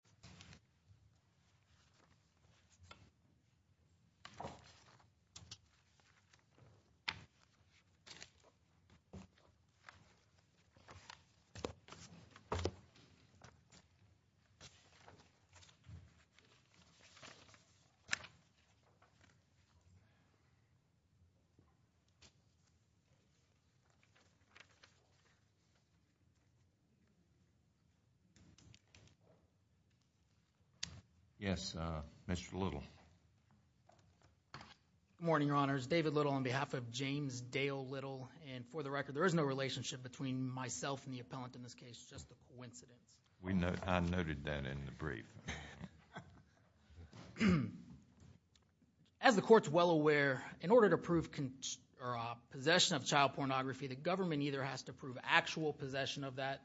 V. L. Bill Clinton H. J. McShane V. Bill Clinton G. R. McShane V. Bill Clinton G. R. McShane Yes, Mr. Little. Good morning, Your Honors. David Little on behalf of James Dale Little, and for the record, there is no relationship between myself and the appellant in this case, just a coincidence. I noted that in the brief. As the court's well aware, in order to prove possession of child pornography, the government either has to prove actual possession of that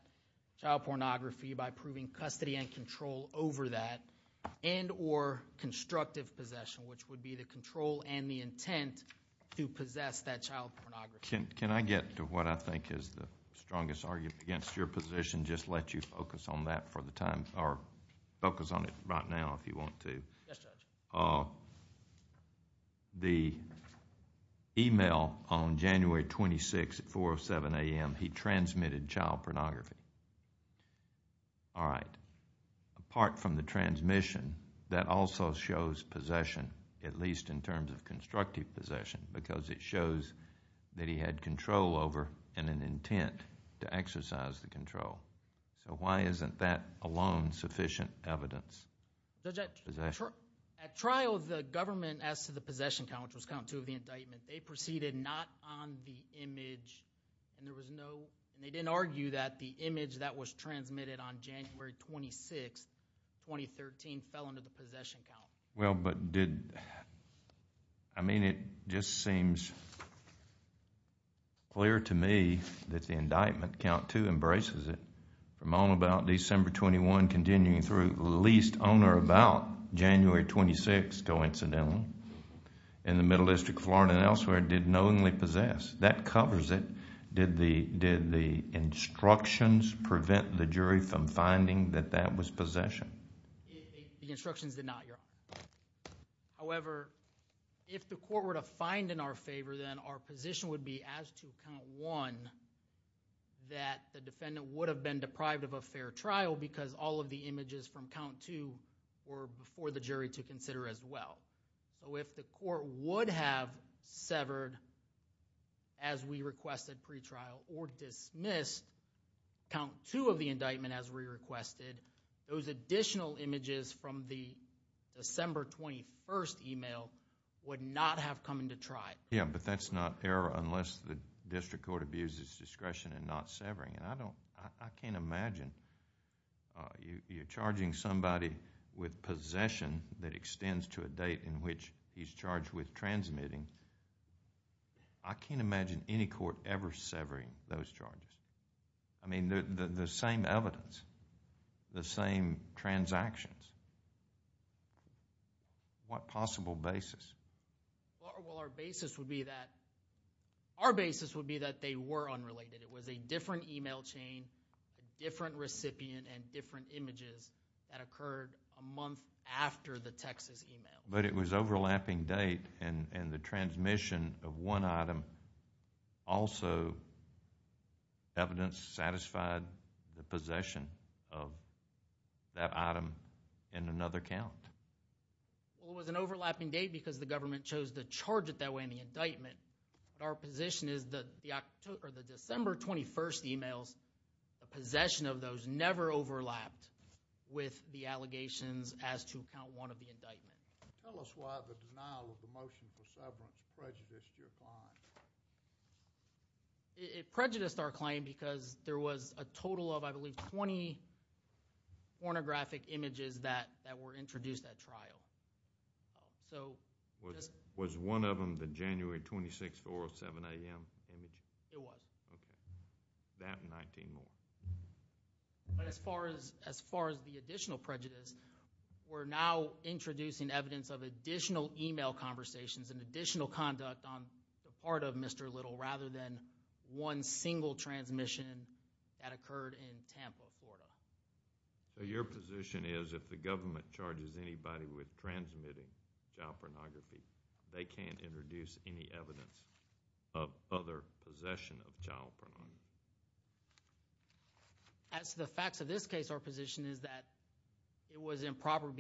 child pornography by proving custody and control over that, and or constructive possession, which would be the control and the intent to possess that child pornography. Can I get to what I think is the strongest argument against your position, just let you focus on that for the time, or focus on it right now if you want to. Yes, Judge. The email on January 26th at 4 or 7 a.m., he transmitted child pornography. All right. Apart from the transmission, that also shows possession, at least in terms of constructive possession, because it shows that he had control over and an intent to exercise the control. So why isn't that alone sufficient evidence? At trial, the government asked for the possession count, which was count two of the indictment. They proceeded not on the image, and they didn't argue that the image that was transmitted on January 26th, 2013, fell under the possession count. Well, but did... I mean, it just seems clear to me that the indictment, count two, embraces it from all about December 21, continuing through at least on or about January 26th, coincidentally, in the Middle District of Florida and elsewhere, did knowingly possess. That covers it. Did the instructions prevent the jury from finding that that was possession? The instructions did not, Your Honor. However, if the court were to find in our favor, then our position would be as to count one, that the defendant would have been deprived of a fair trial because all of the images from count two were before the jury to consider as well. So if the court would have severed, as we requested pre-trial, or dismissed count two of the indictment, as we requested, those additional images from the December 21st email would not have come into trial. Yeah, but that's not error unless the district court abuses discretion in not severing. I can't imagine you charging somebody with possession that extends to a date in which he's charged with transmitting. I can't imagine any court ever severing those charges. I mean, the same evidence, the same transactions. What possible basis? Well, our basis would be that they were unrelated. It was a different email chain, a different recipient, and different images that occurred a month after the Texas email. But it was overlapping date, and the transmission of one item also, evidence satisfied the possession of that item in another count. Well, it was an overlapping date because the government chose to charge it that way in the indictment. But our position is that the December 21st emails, the possession of those never overlapped with the allegations as to count one of the indictment. Tell us why the denial of the motion for severance prejudiced your client. It prejudiced our client because there was a total of, I believe, 20 pornographic images that were introduced at trial. Was one of them the January 26th, 4 or 7 a.m. image? It was. Okay. That and 19 more. But as far as the additional prejudice, we're now introducing evidence of additional email conversations and additional conduct on the part of Mr. Little rather than one single transmission that occurred in Tampa, Florida. So your position is if the government charges anybody with transmitting child pornography, they can't introduce any evidence of other possession of child pornography? As to the facts of this case, our position is that it was improper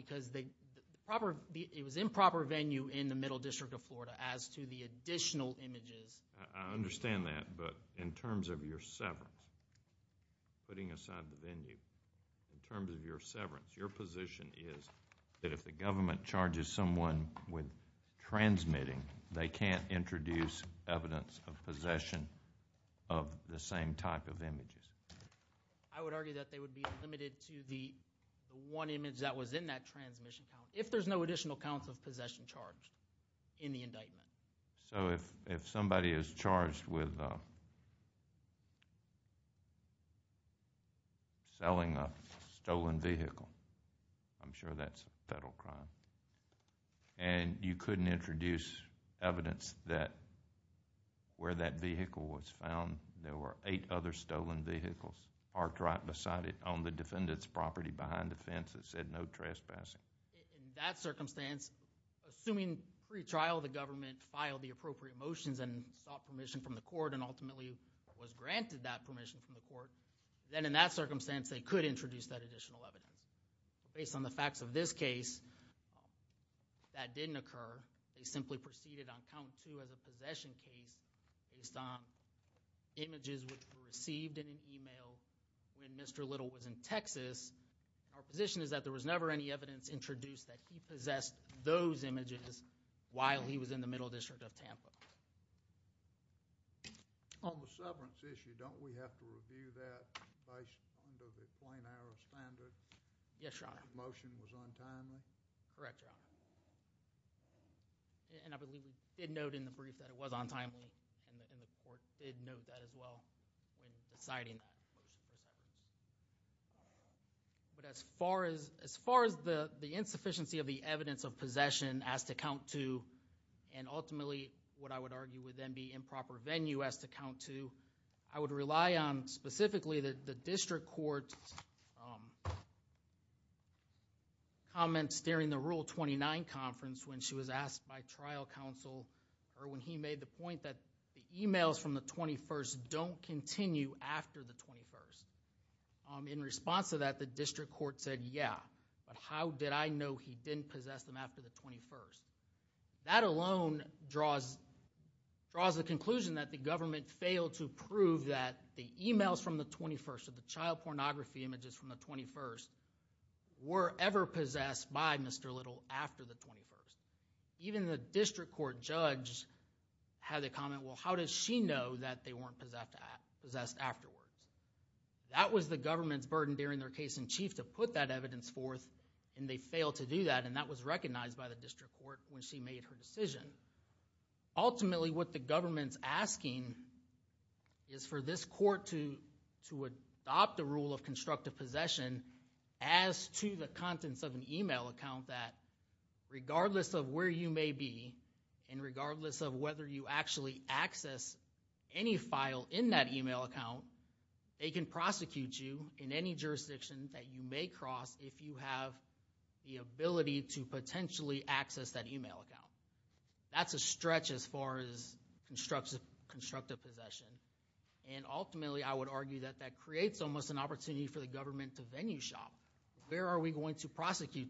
venue in the middle district of Florida as to the additional images. I understand that, but in terms of your severance, putting aside the venue, in terms of your severance, your position is that if the government charges someone with transmitting, they can't introduce evidence of possession of the same type of images? I would argue that they would be limited to the one image that was in that transmission account if there's no additional counts of possession charged in the indictment. So if somebody is charged with selling a stolen vehicle, I'm sure that's a federal crime, and you couldn't introduce evidence that where that vehicle was found, there were eight other stolen vehicles parked right beside it on the defendant's property behind the fence that said no trespassing? In that circumstance, assuming pre-trial the government filed the appropriate motions and sought permission from the court and ultimately was granted that permission from the court, then in that circumstance they could introduce that additional evidence. Based on the facts of this case, that didn't occur. They simply proceeded on count two as a possession case based on images which were received in an email when Mr. Little was in Texas. Our position is that there was never any evidence introduced that he possessed those images while he was in the Middle District of Tampa. On the severance issue, don't we have to review that based on the plain error standard? Yes, Your Honor. The motion was untimely? Correct, Your Honor. And I believe we did note in the brief that it was untimely, and the court did note that as well when deciding that motion for severance. But as far as the insufficiency of the evidence of possession as to count two, and ultimately what I would argue would then be improper venue as to count two, I would rely on specifically the district court comments during the Rule 29 conference when she was asked by trial counsel, or when he made the point that the emails from the 21st don't continue after the 21st. In response to that, the district court said, yeah, but how did I know he didn't possess them after the 21st? That alone draws the conclusion that the government failed to prove that the emails from the 21st, or the child pornography images from the 21st, were ever possessed by Mr. Little after the 21st. Even the district court judge had a comment, well, how does she know that they weren't possessed afterwards? That was the government's burden during their case in chief to put that evidence forth, and they failed to do that, and that was recognized by the district court when she made her decision. Ultimately, what the government's asking is for this court to adopt the rule of constructive possession as to the contents of an email account that regardless of where you may be, and regardless of whether you actually access any file in that email account, they can prosecute you in any jurisdiction that you may cross if you have the ability to potentially access that email account. That's a stretch as far as constructive possession, and ultimately, I would argue that that creates almost an opportunity for the government to venue shop. Where are we going to prosecute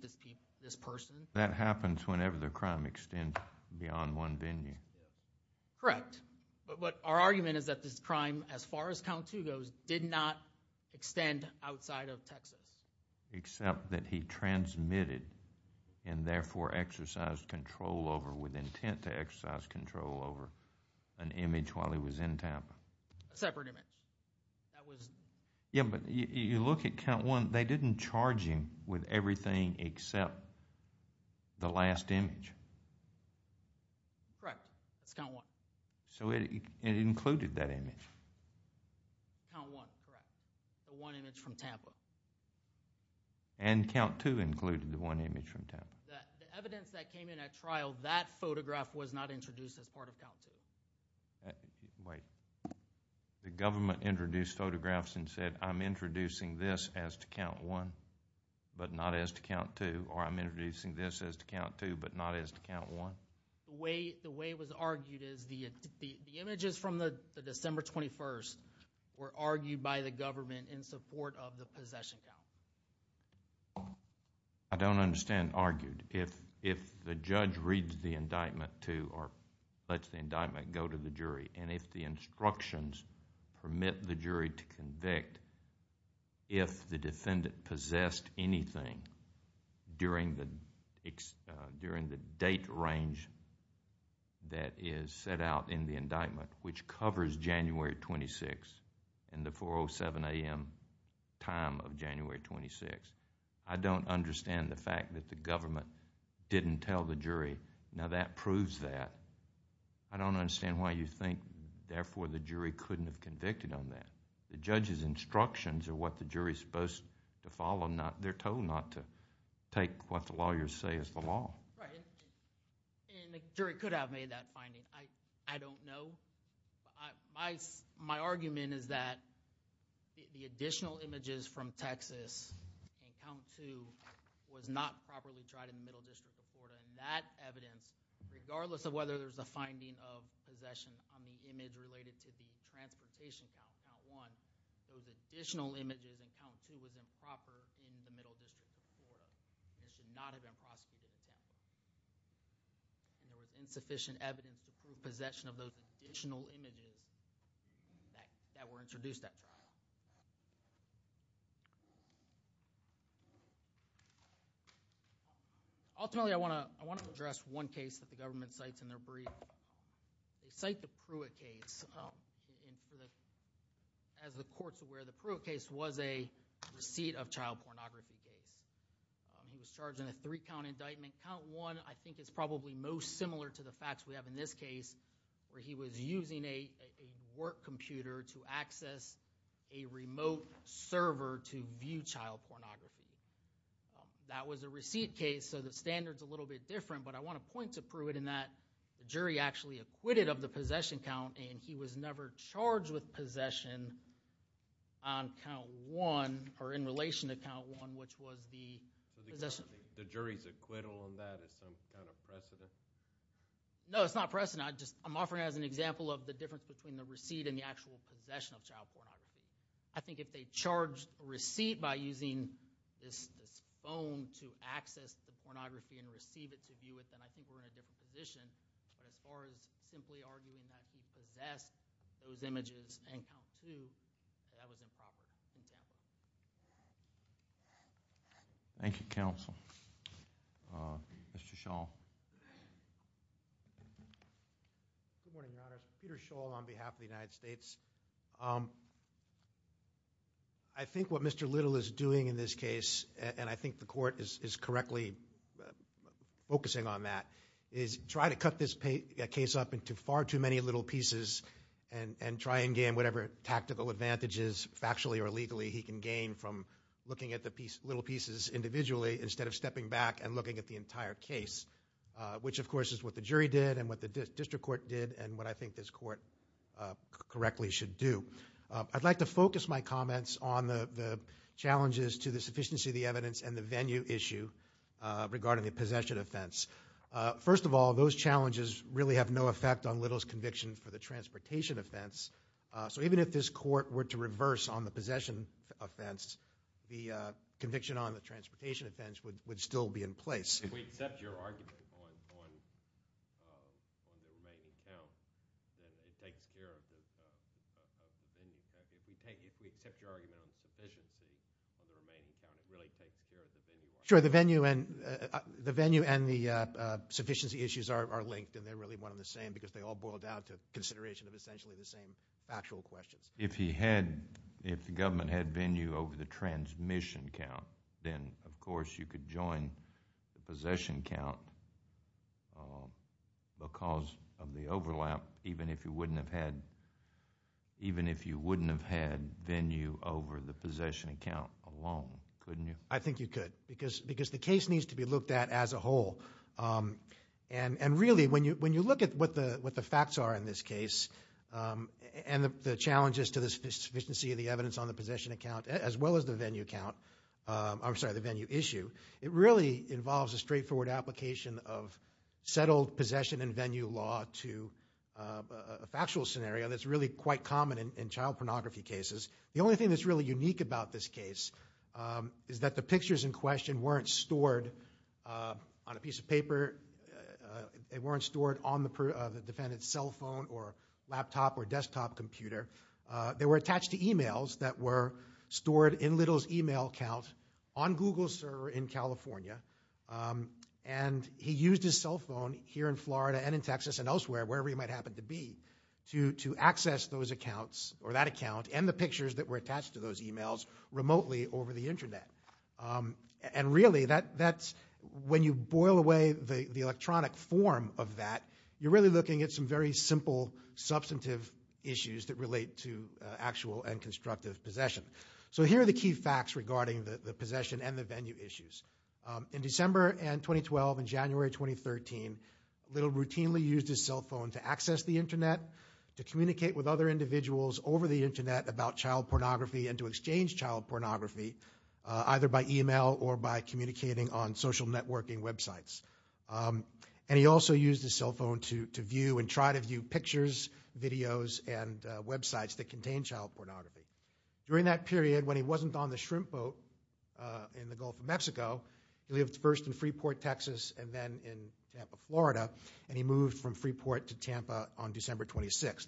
this person? That happens whenever the crime extends beyond one venue. Correct. But our argument is that this crime, as far as count two goes, did not extend outside of Texas. Except that he transmitted and therefore exercised control over, with intent to exercise control over, an image while he was in Tampa. A separate image. That was... Yeah, but you look at count one, they didn't charge him with everything except the last image. Correct. That's count one. So it included that image. Count one, correct. The one image from Tampa. And count two included the one image from Tampa. The evidence that came in at trial, that photograph was not introduced as part of count two. Wait. The government introduced photographs and said, I'm introducing this as to count one, but not as to count two, or I'm introducing this as to count two, but not as to count one? The way it was argued is the images from the December 21st were argued by the government in support of the possession count. I don't understand argued. If the judge reads the indictment to or lets the indictment go to the jury, and if the instructions permit the jury to convict if the defendant possessed anything during the date range that is set out in the indictment, which covers January 26th and the 4.07 a.m. time of January 26th, I don't understand the fact that the government didn't tell the jury. Now, that proves that. I don't understand why you think, therefore, the jury couldn't have convicted on that. The judge's instructions are what the jury is supposed to follow. They're told not to take what the lawyers say is the law. Right. And the jury could have made that finding. I don't know. My argument is that the additional images from Texas in count two was not properly tried in the Middle District of Florida. And that evidence, regardless of whether there's a finding of possession on the image related to the transportation count, count one, those additional images in count two was improper in the Middle District of Florida. It should not have been prosecuted in Tampa. And there was insufficient evidence to prove possession of those additional images that were introduced at trial. Ultimately, I want to address one case that the government cites in their brief. They cite the Pruitt case. As the court's aware, the Pruitt case was a receipt of child pornography case. He was charged in a three-count indictment. Count one, I think, is probably most similar to the facts we have in this case, where he was using a work computer to access a remote server to view child pornography. That was a receipt case, so the standard's a little bit different. But I want to point to Pruitt in that the jury actually acquitted of the possession count, and he was never charged with possession on count one, or in relation to count one, which was the possession. So the jury's acquittal on that is some kind of precedent? No, it's not precedent. I'm offering it as an example of the difference between the receipt and the actual possession of child pornography. I think if they charged a receipt by using this phone to access the pornography and receive it to view it, then I think we're in a different position. But as far as simply arguing that he possessed those images in count two, that was improper in Tampa. Thank you, counsel. Mr. Shaw. Good morning, Your Honors. Peter Shaw on behalf of the United States. I think what Mr. Little is doing in this case, and I think the Court is correctly focusing on that, is try to cut this case up into far too many little pieces and try and gain whatever tactical advantages, factually or legally, he can gain from looking at the little pieces individually instead of stepping back and looking at the entire case, which, of course, is what the jury did and what the District Court did and what I think this Court correctly should do. I'd like to focus my comments on the challenges to the sufficiency of the evidence and the venue issue regarding the possession offense. First of all, those challenges really have no effect on Little's conviction for the transportation offense. So even if this Court were to reverse on the possession offense, the conviction on the transportation offense would still be in place. If we accept your argument on the remaining count, then it takes care of the venue. If we accept your argument on the sufficiency on the remaining count, it really takes care of the venue. Sure, the venue and the sufficiency issues are linked and they're really one and the same factual questions. If he had, if the government had venue over the transmission count, then, of course, you could join the possession count because of the overlap even if you wouldn't have had venue over the possession count alone, couldn't you? I think you could because the case needs to be looked at as a whole. And really, when you look at what the facts are in this case and the challenges to the sufficiency of the evidence on the possession account as well as the venue account, I'm sorry, the venue issue, it really involves a straightforward application of settled possession and venue law to a factual scenario that's really quite common in child pornography cases. The only thing that's really unique about this case is that the pictures in question weren't stored on a piece of paper. They weren't stored on the defendant's cell phone or laptop or desktop computer. They were attached to emails that were stored in Little's email account on Google's server in California. And he used his cell phone here in Florida and in Texas and elsewhere, wherever he might happen to be, to access those accounts or that account and the pictures that were attached to those emails remotely over the internet. And really, when you boil away the electronic form of that, you're really looking at some very simple substantive issues that relate to actual and constructive possession. So here are the key facts regarding the possession and the venue issues. In December 2012 and January 2013, Little routinely used his cell phone to access the internet, to communicate with other individuals over the internet about child pornography directly and to exchange child pornography either by email or by communicating on social networking websites. And he also used his cell phone to view and try to view pictures, videos, and websites that contain child pornography. During that period, when he wasn't on the shrimp boat in the Gulf of Mexico, he lived first in Freeport, Texas, and then in Tampa, Florida, and he moved from Freeport to Tampa on December 26th.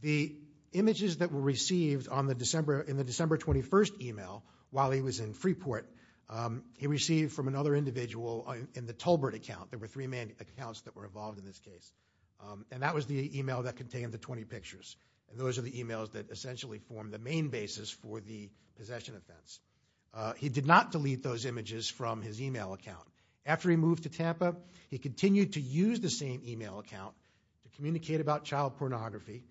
The images that were received in the December 21st email while he was in Freeport, he received from another individual in the Tolbert account. There were three accounts that were involved in this case. And that was the email that contained the 20 pictures. And those are the emails that essentially formed the main basis for the possession offense. He did not delete those images from his email account. After he moved to Tampa, he continued to use the same email account to communicate about child pornography,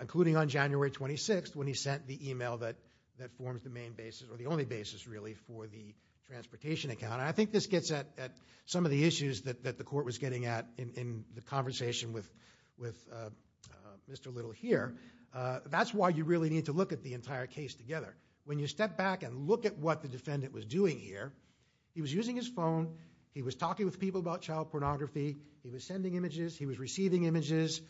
including on January 26th when he sent the email that forms the main basis, or the only basis really, for the transportation account. And I think this gets at some of the issues that the court was getting at in the conversation with Mr. Little here. That's why you really need to look at the entire case together. When you step back and look at what the defendant was doing here, he was using his phone. He was talking with people about child pornography. He was sending images. He was receiving images.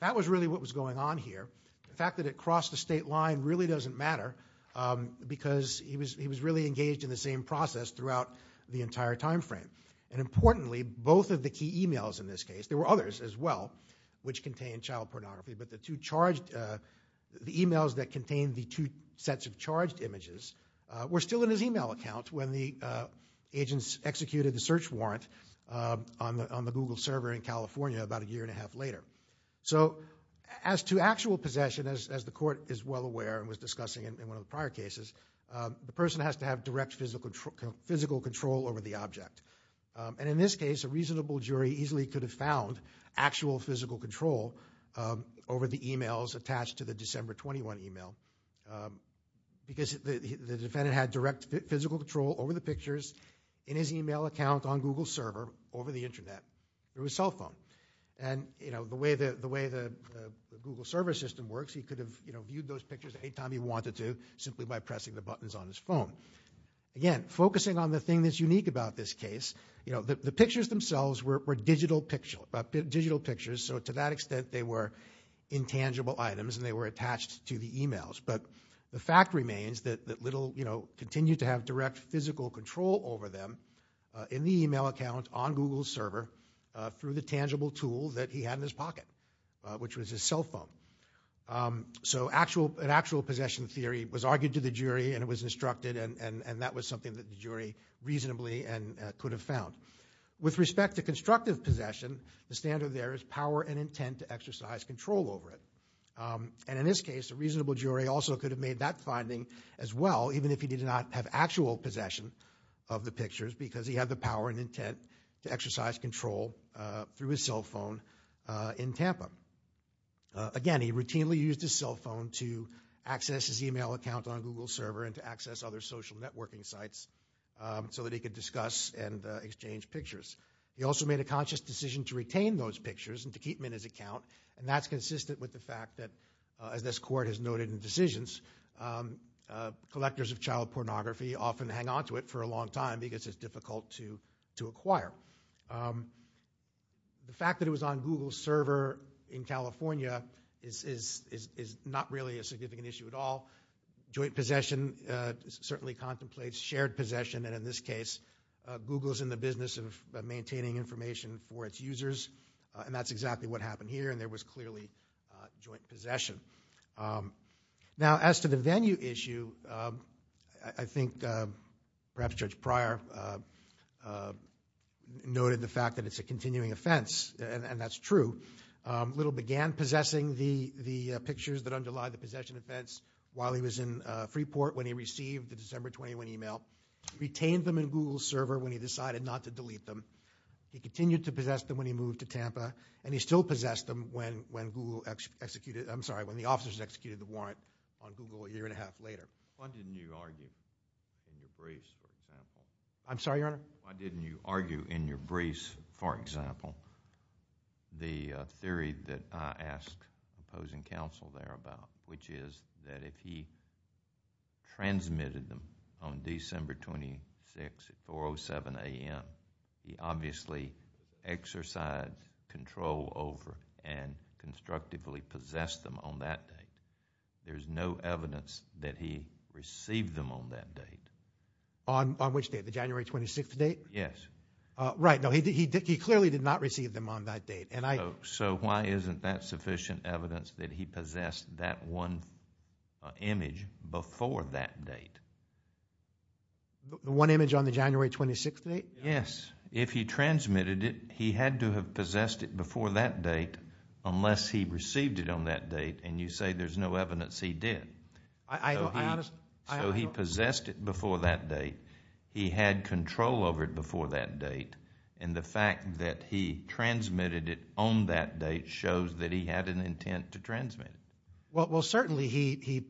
That was really what was going on here. The fact that it crossed the state line really doesn't matter because he was really engaged in the same process throughout the entire time frame. And importantly, both of the key emails in this case, there were others as well, which contained child pornography. But the two charged, the emails that contained the two sets of charged images were still in his email account when the agents executed the search warrant on the Google server here in California about a year and a half later. So as to actual possession, as the court is well aware and was discussing in one of the prior cases, the person has to have direct physical control over the object. And in this case, a reasonable jury easily could have found actual physical control over the emails attached to the December 21 email because the defendant had direct physical control over the pictures in his email account on Google's server over the Internet. It was a cell phone. And the way the Google server system works, he could have viewed those pictures anytime he wanted to simply by pressing the buttons on his phone. Again, focusing on the thing that's unique about this case, the pictures themselves were digital pictures. So to that extent, they were intangible items and they were attached to the emails. But the fact remains that Little continued to have direct physical control over them in the email account on Google's server through the tangible tool that he had in his pocket, which was his cell phone. So an actual possession theory was argued to the jury and it was instructed and that was something that the jury reasonably could have found. With respect to constructive possession, the standard there is power and intent to exercise control over it. And in this case, a reasonable jury also could have made that finding as well, even if he did not have actual possession of the pictures because he had the power and intent to exercise control through his cell phone in Tampa. Again, he routinely used his cell phone to access his email account on Google's server and to access other social networking sites so that he could discuss and exchange pictures. He also made a conscious decision to retain those pictures and to keep them in his account. And that's consistent with the fact that, as this court has noted in decisions, collectors of child pornography often hang on to it for a long time because it's difficult to acquire. The fact that it was on Google's server in California is not really a significant issue at all. Joint possession certainly contemplates shared possession and, in this case, Google is in the business of maintaining information for its users and that's exactly what happened here and there was clearly joint possession. Now, as to the venue issue, I think perhaps Judge Pryor noted the fact that it's a continuing offense and that's true. Little began possessing the pictures that underlie the possession offense while he was in Freeport when he received the December 21 email, retained them in Google's server when he decided not to delete them. He continued to possess them when he moved to Tampa and he still possessed them when the officers executed the warrant on Google a year and a half later. Why didn't you argue in your briefs, for example? I'm sorry, Your Honor? Why didn't you argue in your briefs, for example, the theory that I asked opposing counsel there about, which is that if he transmitted them on December 26 at 4.07 a.m., he obviously exercised control over and constructively possessed them on that date. There's no evidence that he received them on that date. On which date, the January 26 date? Yes. Right. No, he clearly did not receive them on that date. So why isn't that sufficient evidence that he possessed that one image before that date? The one image on the January 26 date? Yes. If he transmitted it, he had to have possessed it before that date unless he received it on that date. And you say there's no evidence he did. So he possessed it before that date. He had control over it before that date. And the fact that he transmitted it on that date shows that he had an intent to transmit it. Well, certainly he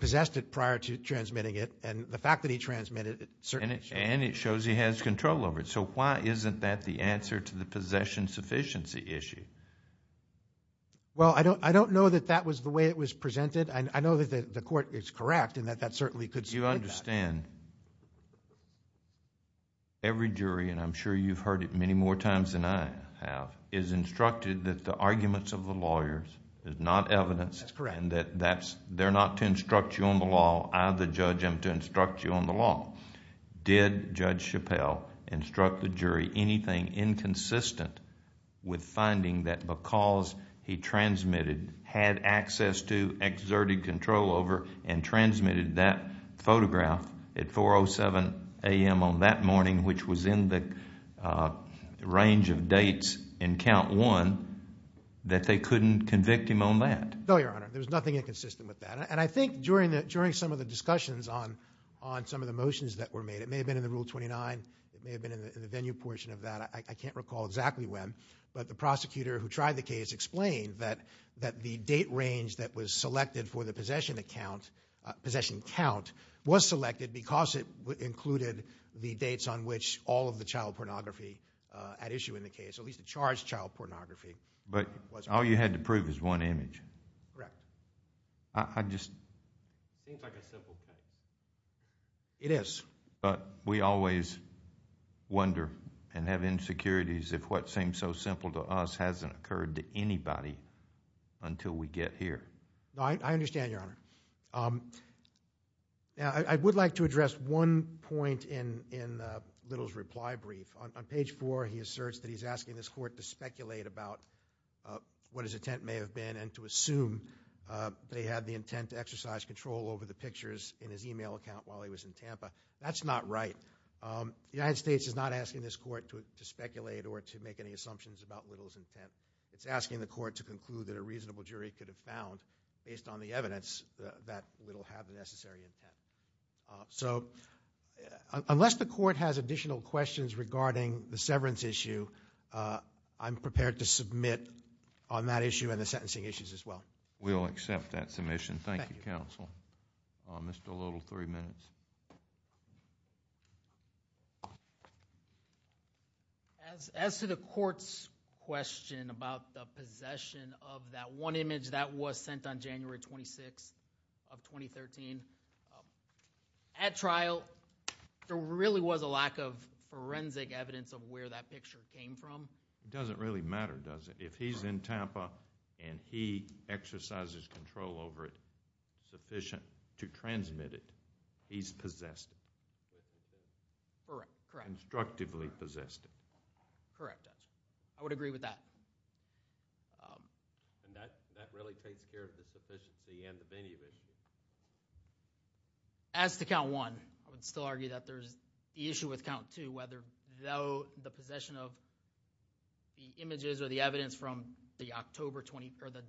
possessed it prior to transmitting it. And the fact that he transmitted it certainly shows. And it shows he has control over it. So why isn't that the answer to the possession sufficiency issue? Well, I don't know that that was the way it was presented. I know that the court is correct and that that certainly could support that. You understand. Every jury, and I'm sure you've heard it many more times than I have, is instructed that the arguments of the lawyers is not evidence. That's correct. And that they're not to instruct you on the law. I, the judge, am to instruct you on the law. Did Judge Chappelle instruct the jury anything inconsistent with finding that because he transmitted, had access to, exerted control over, and transmitted that photograph at 4.07 a.m. on that morning, which was in the range of dates in count one, that they couldn't convict him on that? No, Your Honor. There was nothing inconsistent with that. And I think during some of the discussions on some of the motions that were made, it may have been in the Rule 29, it may have been in the venue portion of that, I can't recall exactly when, but the prosecutor who tried the case explained that the date range that was selected for the possession count was selected because it included the dates on which all of the child pornography at issue in the case, at least the charged child pornography. But all you had to prove is one image. Correct. I just. Seems like a simple case. It is. But we always wonder and have insecurities if what seems so simple to us hasn't occurred to anybody until we get here. No, I understand, Your Honor. Now, I would like to address one point in Little's reply brief. On page four, he asserts that he's asking this court to speculate about what his intent may have been and to assume they had the intent to exercise control over the pictures in his e-mail account while he was in Tampa. That's not right. The United States is not asking this court to speculate or to make any assumptions about Little's intent. It's asking the court to conclude that a reasonable jury could have found, based on the evidence, that Little had the necessary intent. So unless the court has additional questions regarding the severance issue, I'm prepared to submit on that issue and the sentencing issues as well. We'll accept that submission. Thank you, counsel. Mr. Little, three minutes. As to the court's question about the possession of that one image that was sent on January 26th of 2013, at trial, there really was a lack of forensic evidence of where that picture came from. It doesn't really matter, does it? If he's in Tampa and he exercises control over it sufficient to transmit it, he's possessed it. Correct, correct. Constructively possessed it. Correct, Judge. I would agree with that. And that really takes care of the sufficiency and the venue issue. As to count one, I would still argue that there's the issue with count two, whether the possession of the images or the evidence from the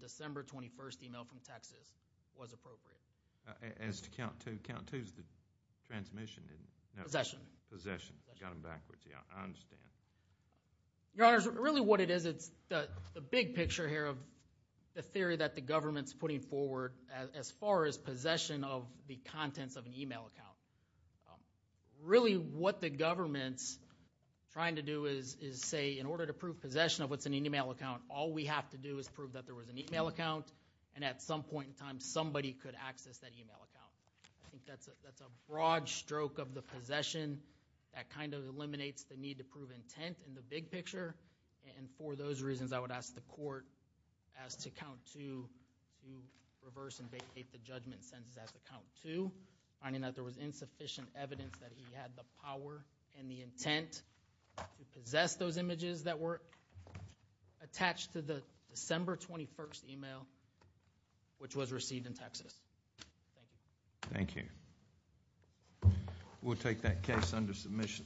December 21st email from Texas was appropriate. As to count two, count two is the transmission. Possession. Possession. Got them backwards. I understand. Your Honors, really what it is, it's the big picture here of the theory that the government's putting forward as far as possession of the contents of an email account. Really what the government's trying to do is say in order to prove possession of what's in an email account, all we have to do is prove that there was an email account, and at some point in time somebody could access that email account. I think that's a broad stroke of the possession that kind of eliminates the need to prove intent in the big picture. And for those reasons, I would ask the court as to count two to reverse and vacate the judgment sentence as to count two, finding that there was insufficient evidence that he had the power and the intent to possess those images that were attached to the December 21st email which was received in Texas. Thank you. Thank you. We'll take that case under submission.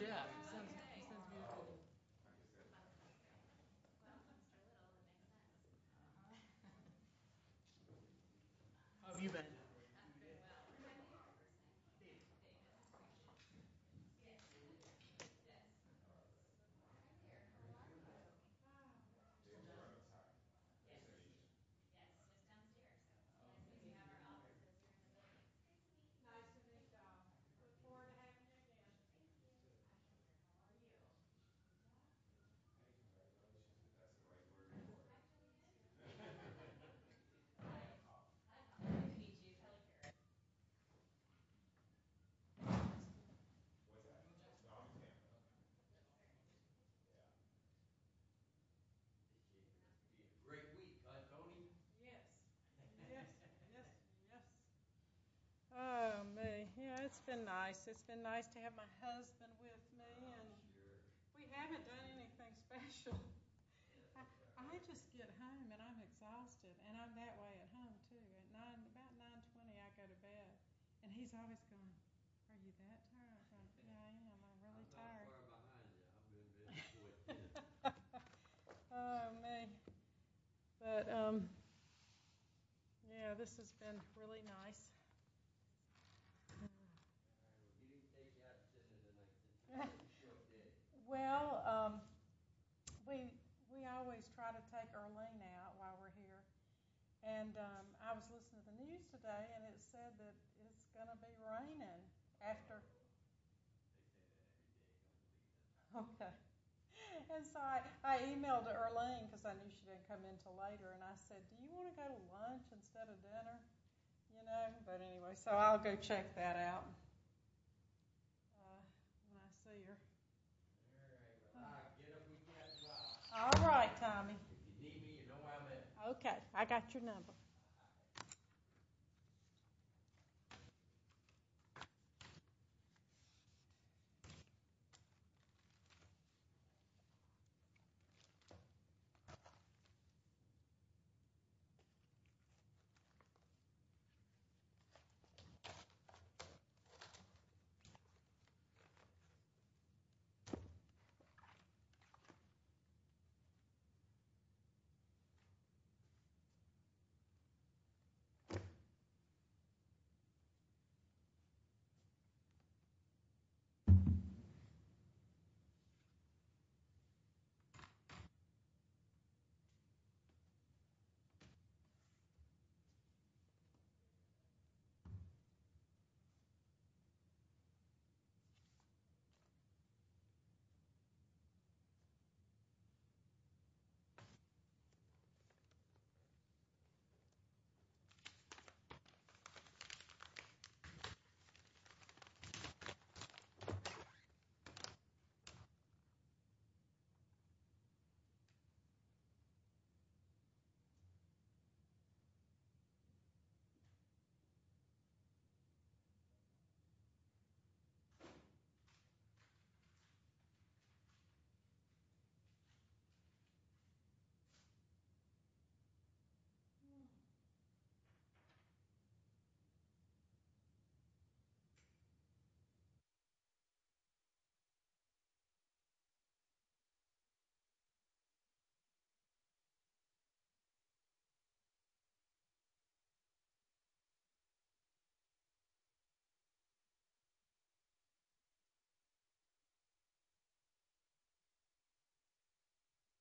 Yes. Oh, me. Yeah, it's been nice. It's been nice to have my husband with me, and we haven't done anything special. I just get home, and I'm exhausted, and I'm that way at home, too. At about 9.20 I go to bed, and he's up at 9.30, and I'm up at 9.30. Are you that tired? Yeah, I am. I'm really tired. I'm that far behind you. I'm losing it. Oh, me. But, yeah, this has been really nice. Did you take that to the next court? I'm sure you did. Well, we always try to take Erlene out while we're here, and I was listening to the news today, and it said that it's going to be raining after. And so I emailed Erlene because I knew she didn't come in until later, and I said, do you want to go to lunch instead of dinner? But anyway, so I'll go check that out when I see her. All right, Tommy. Okay, I got your number. All right. All right. All right.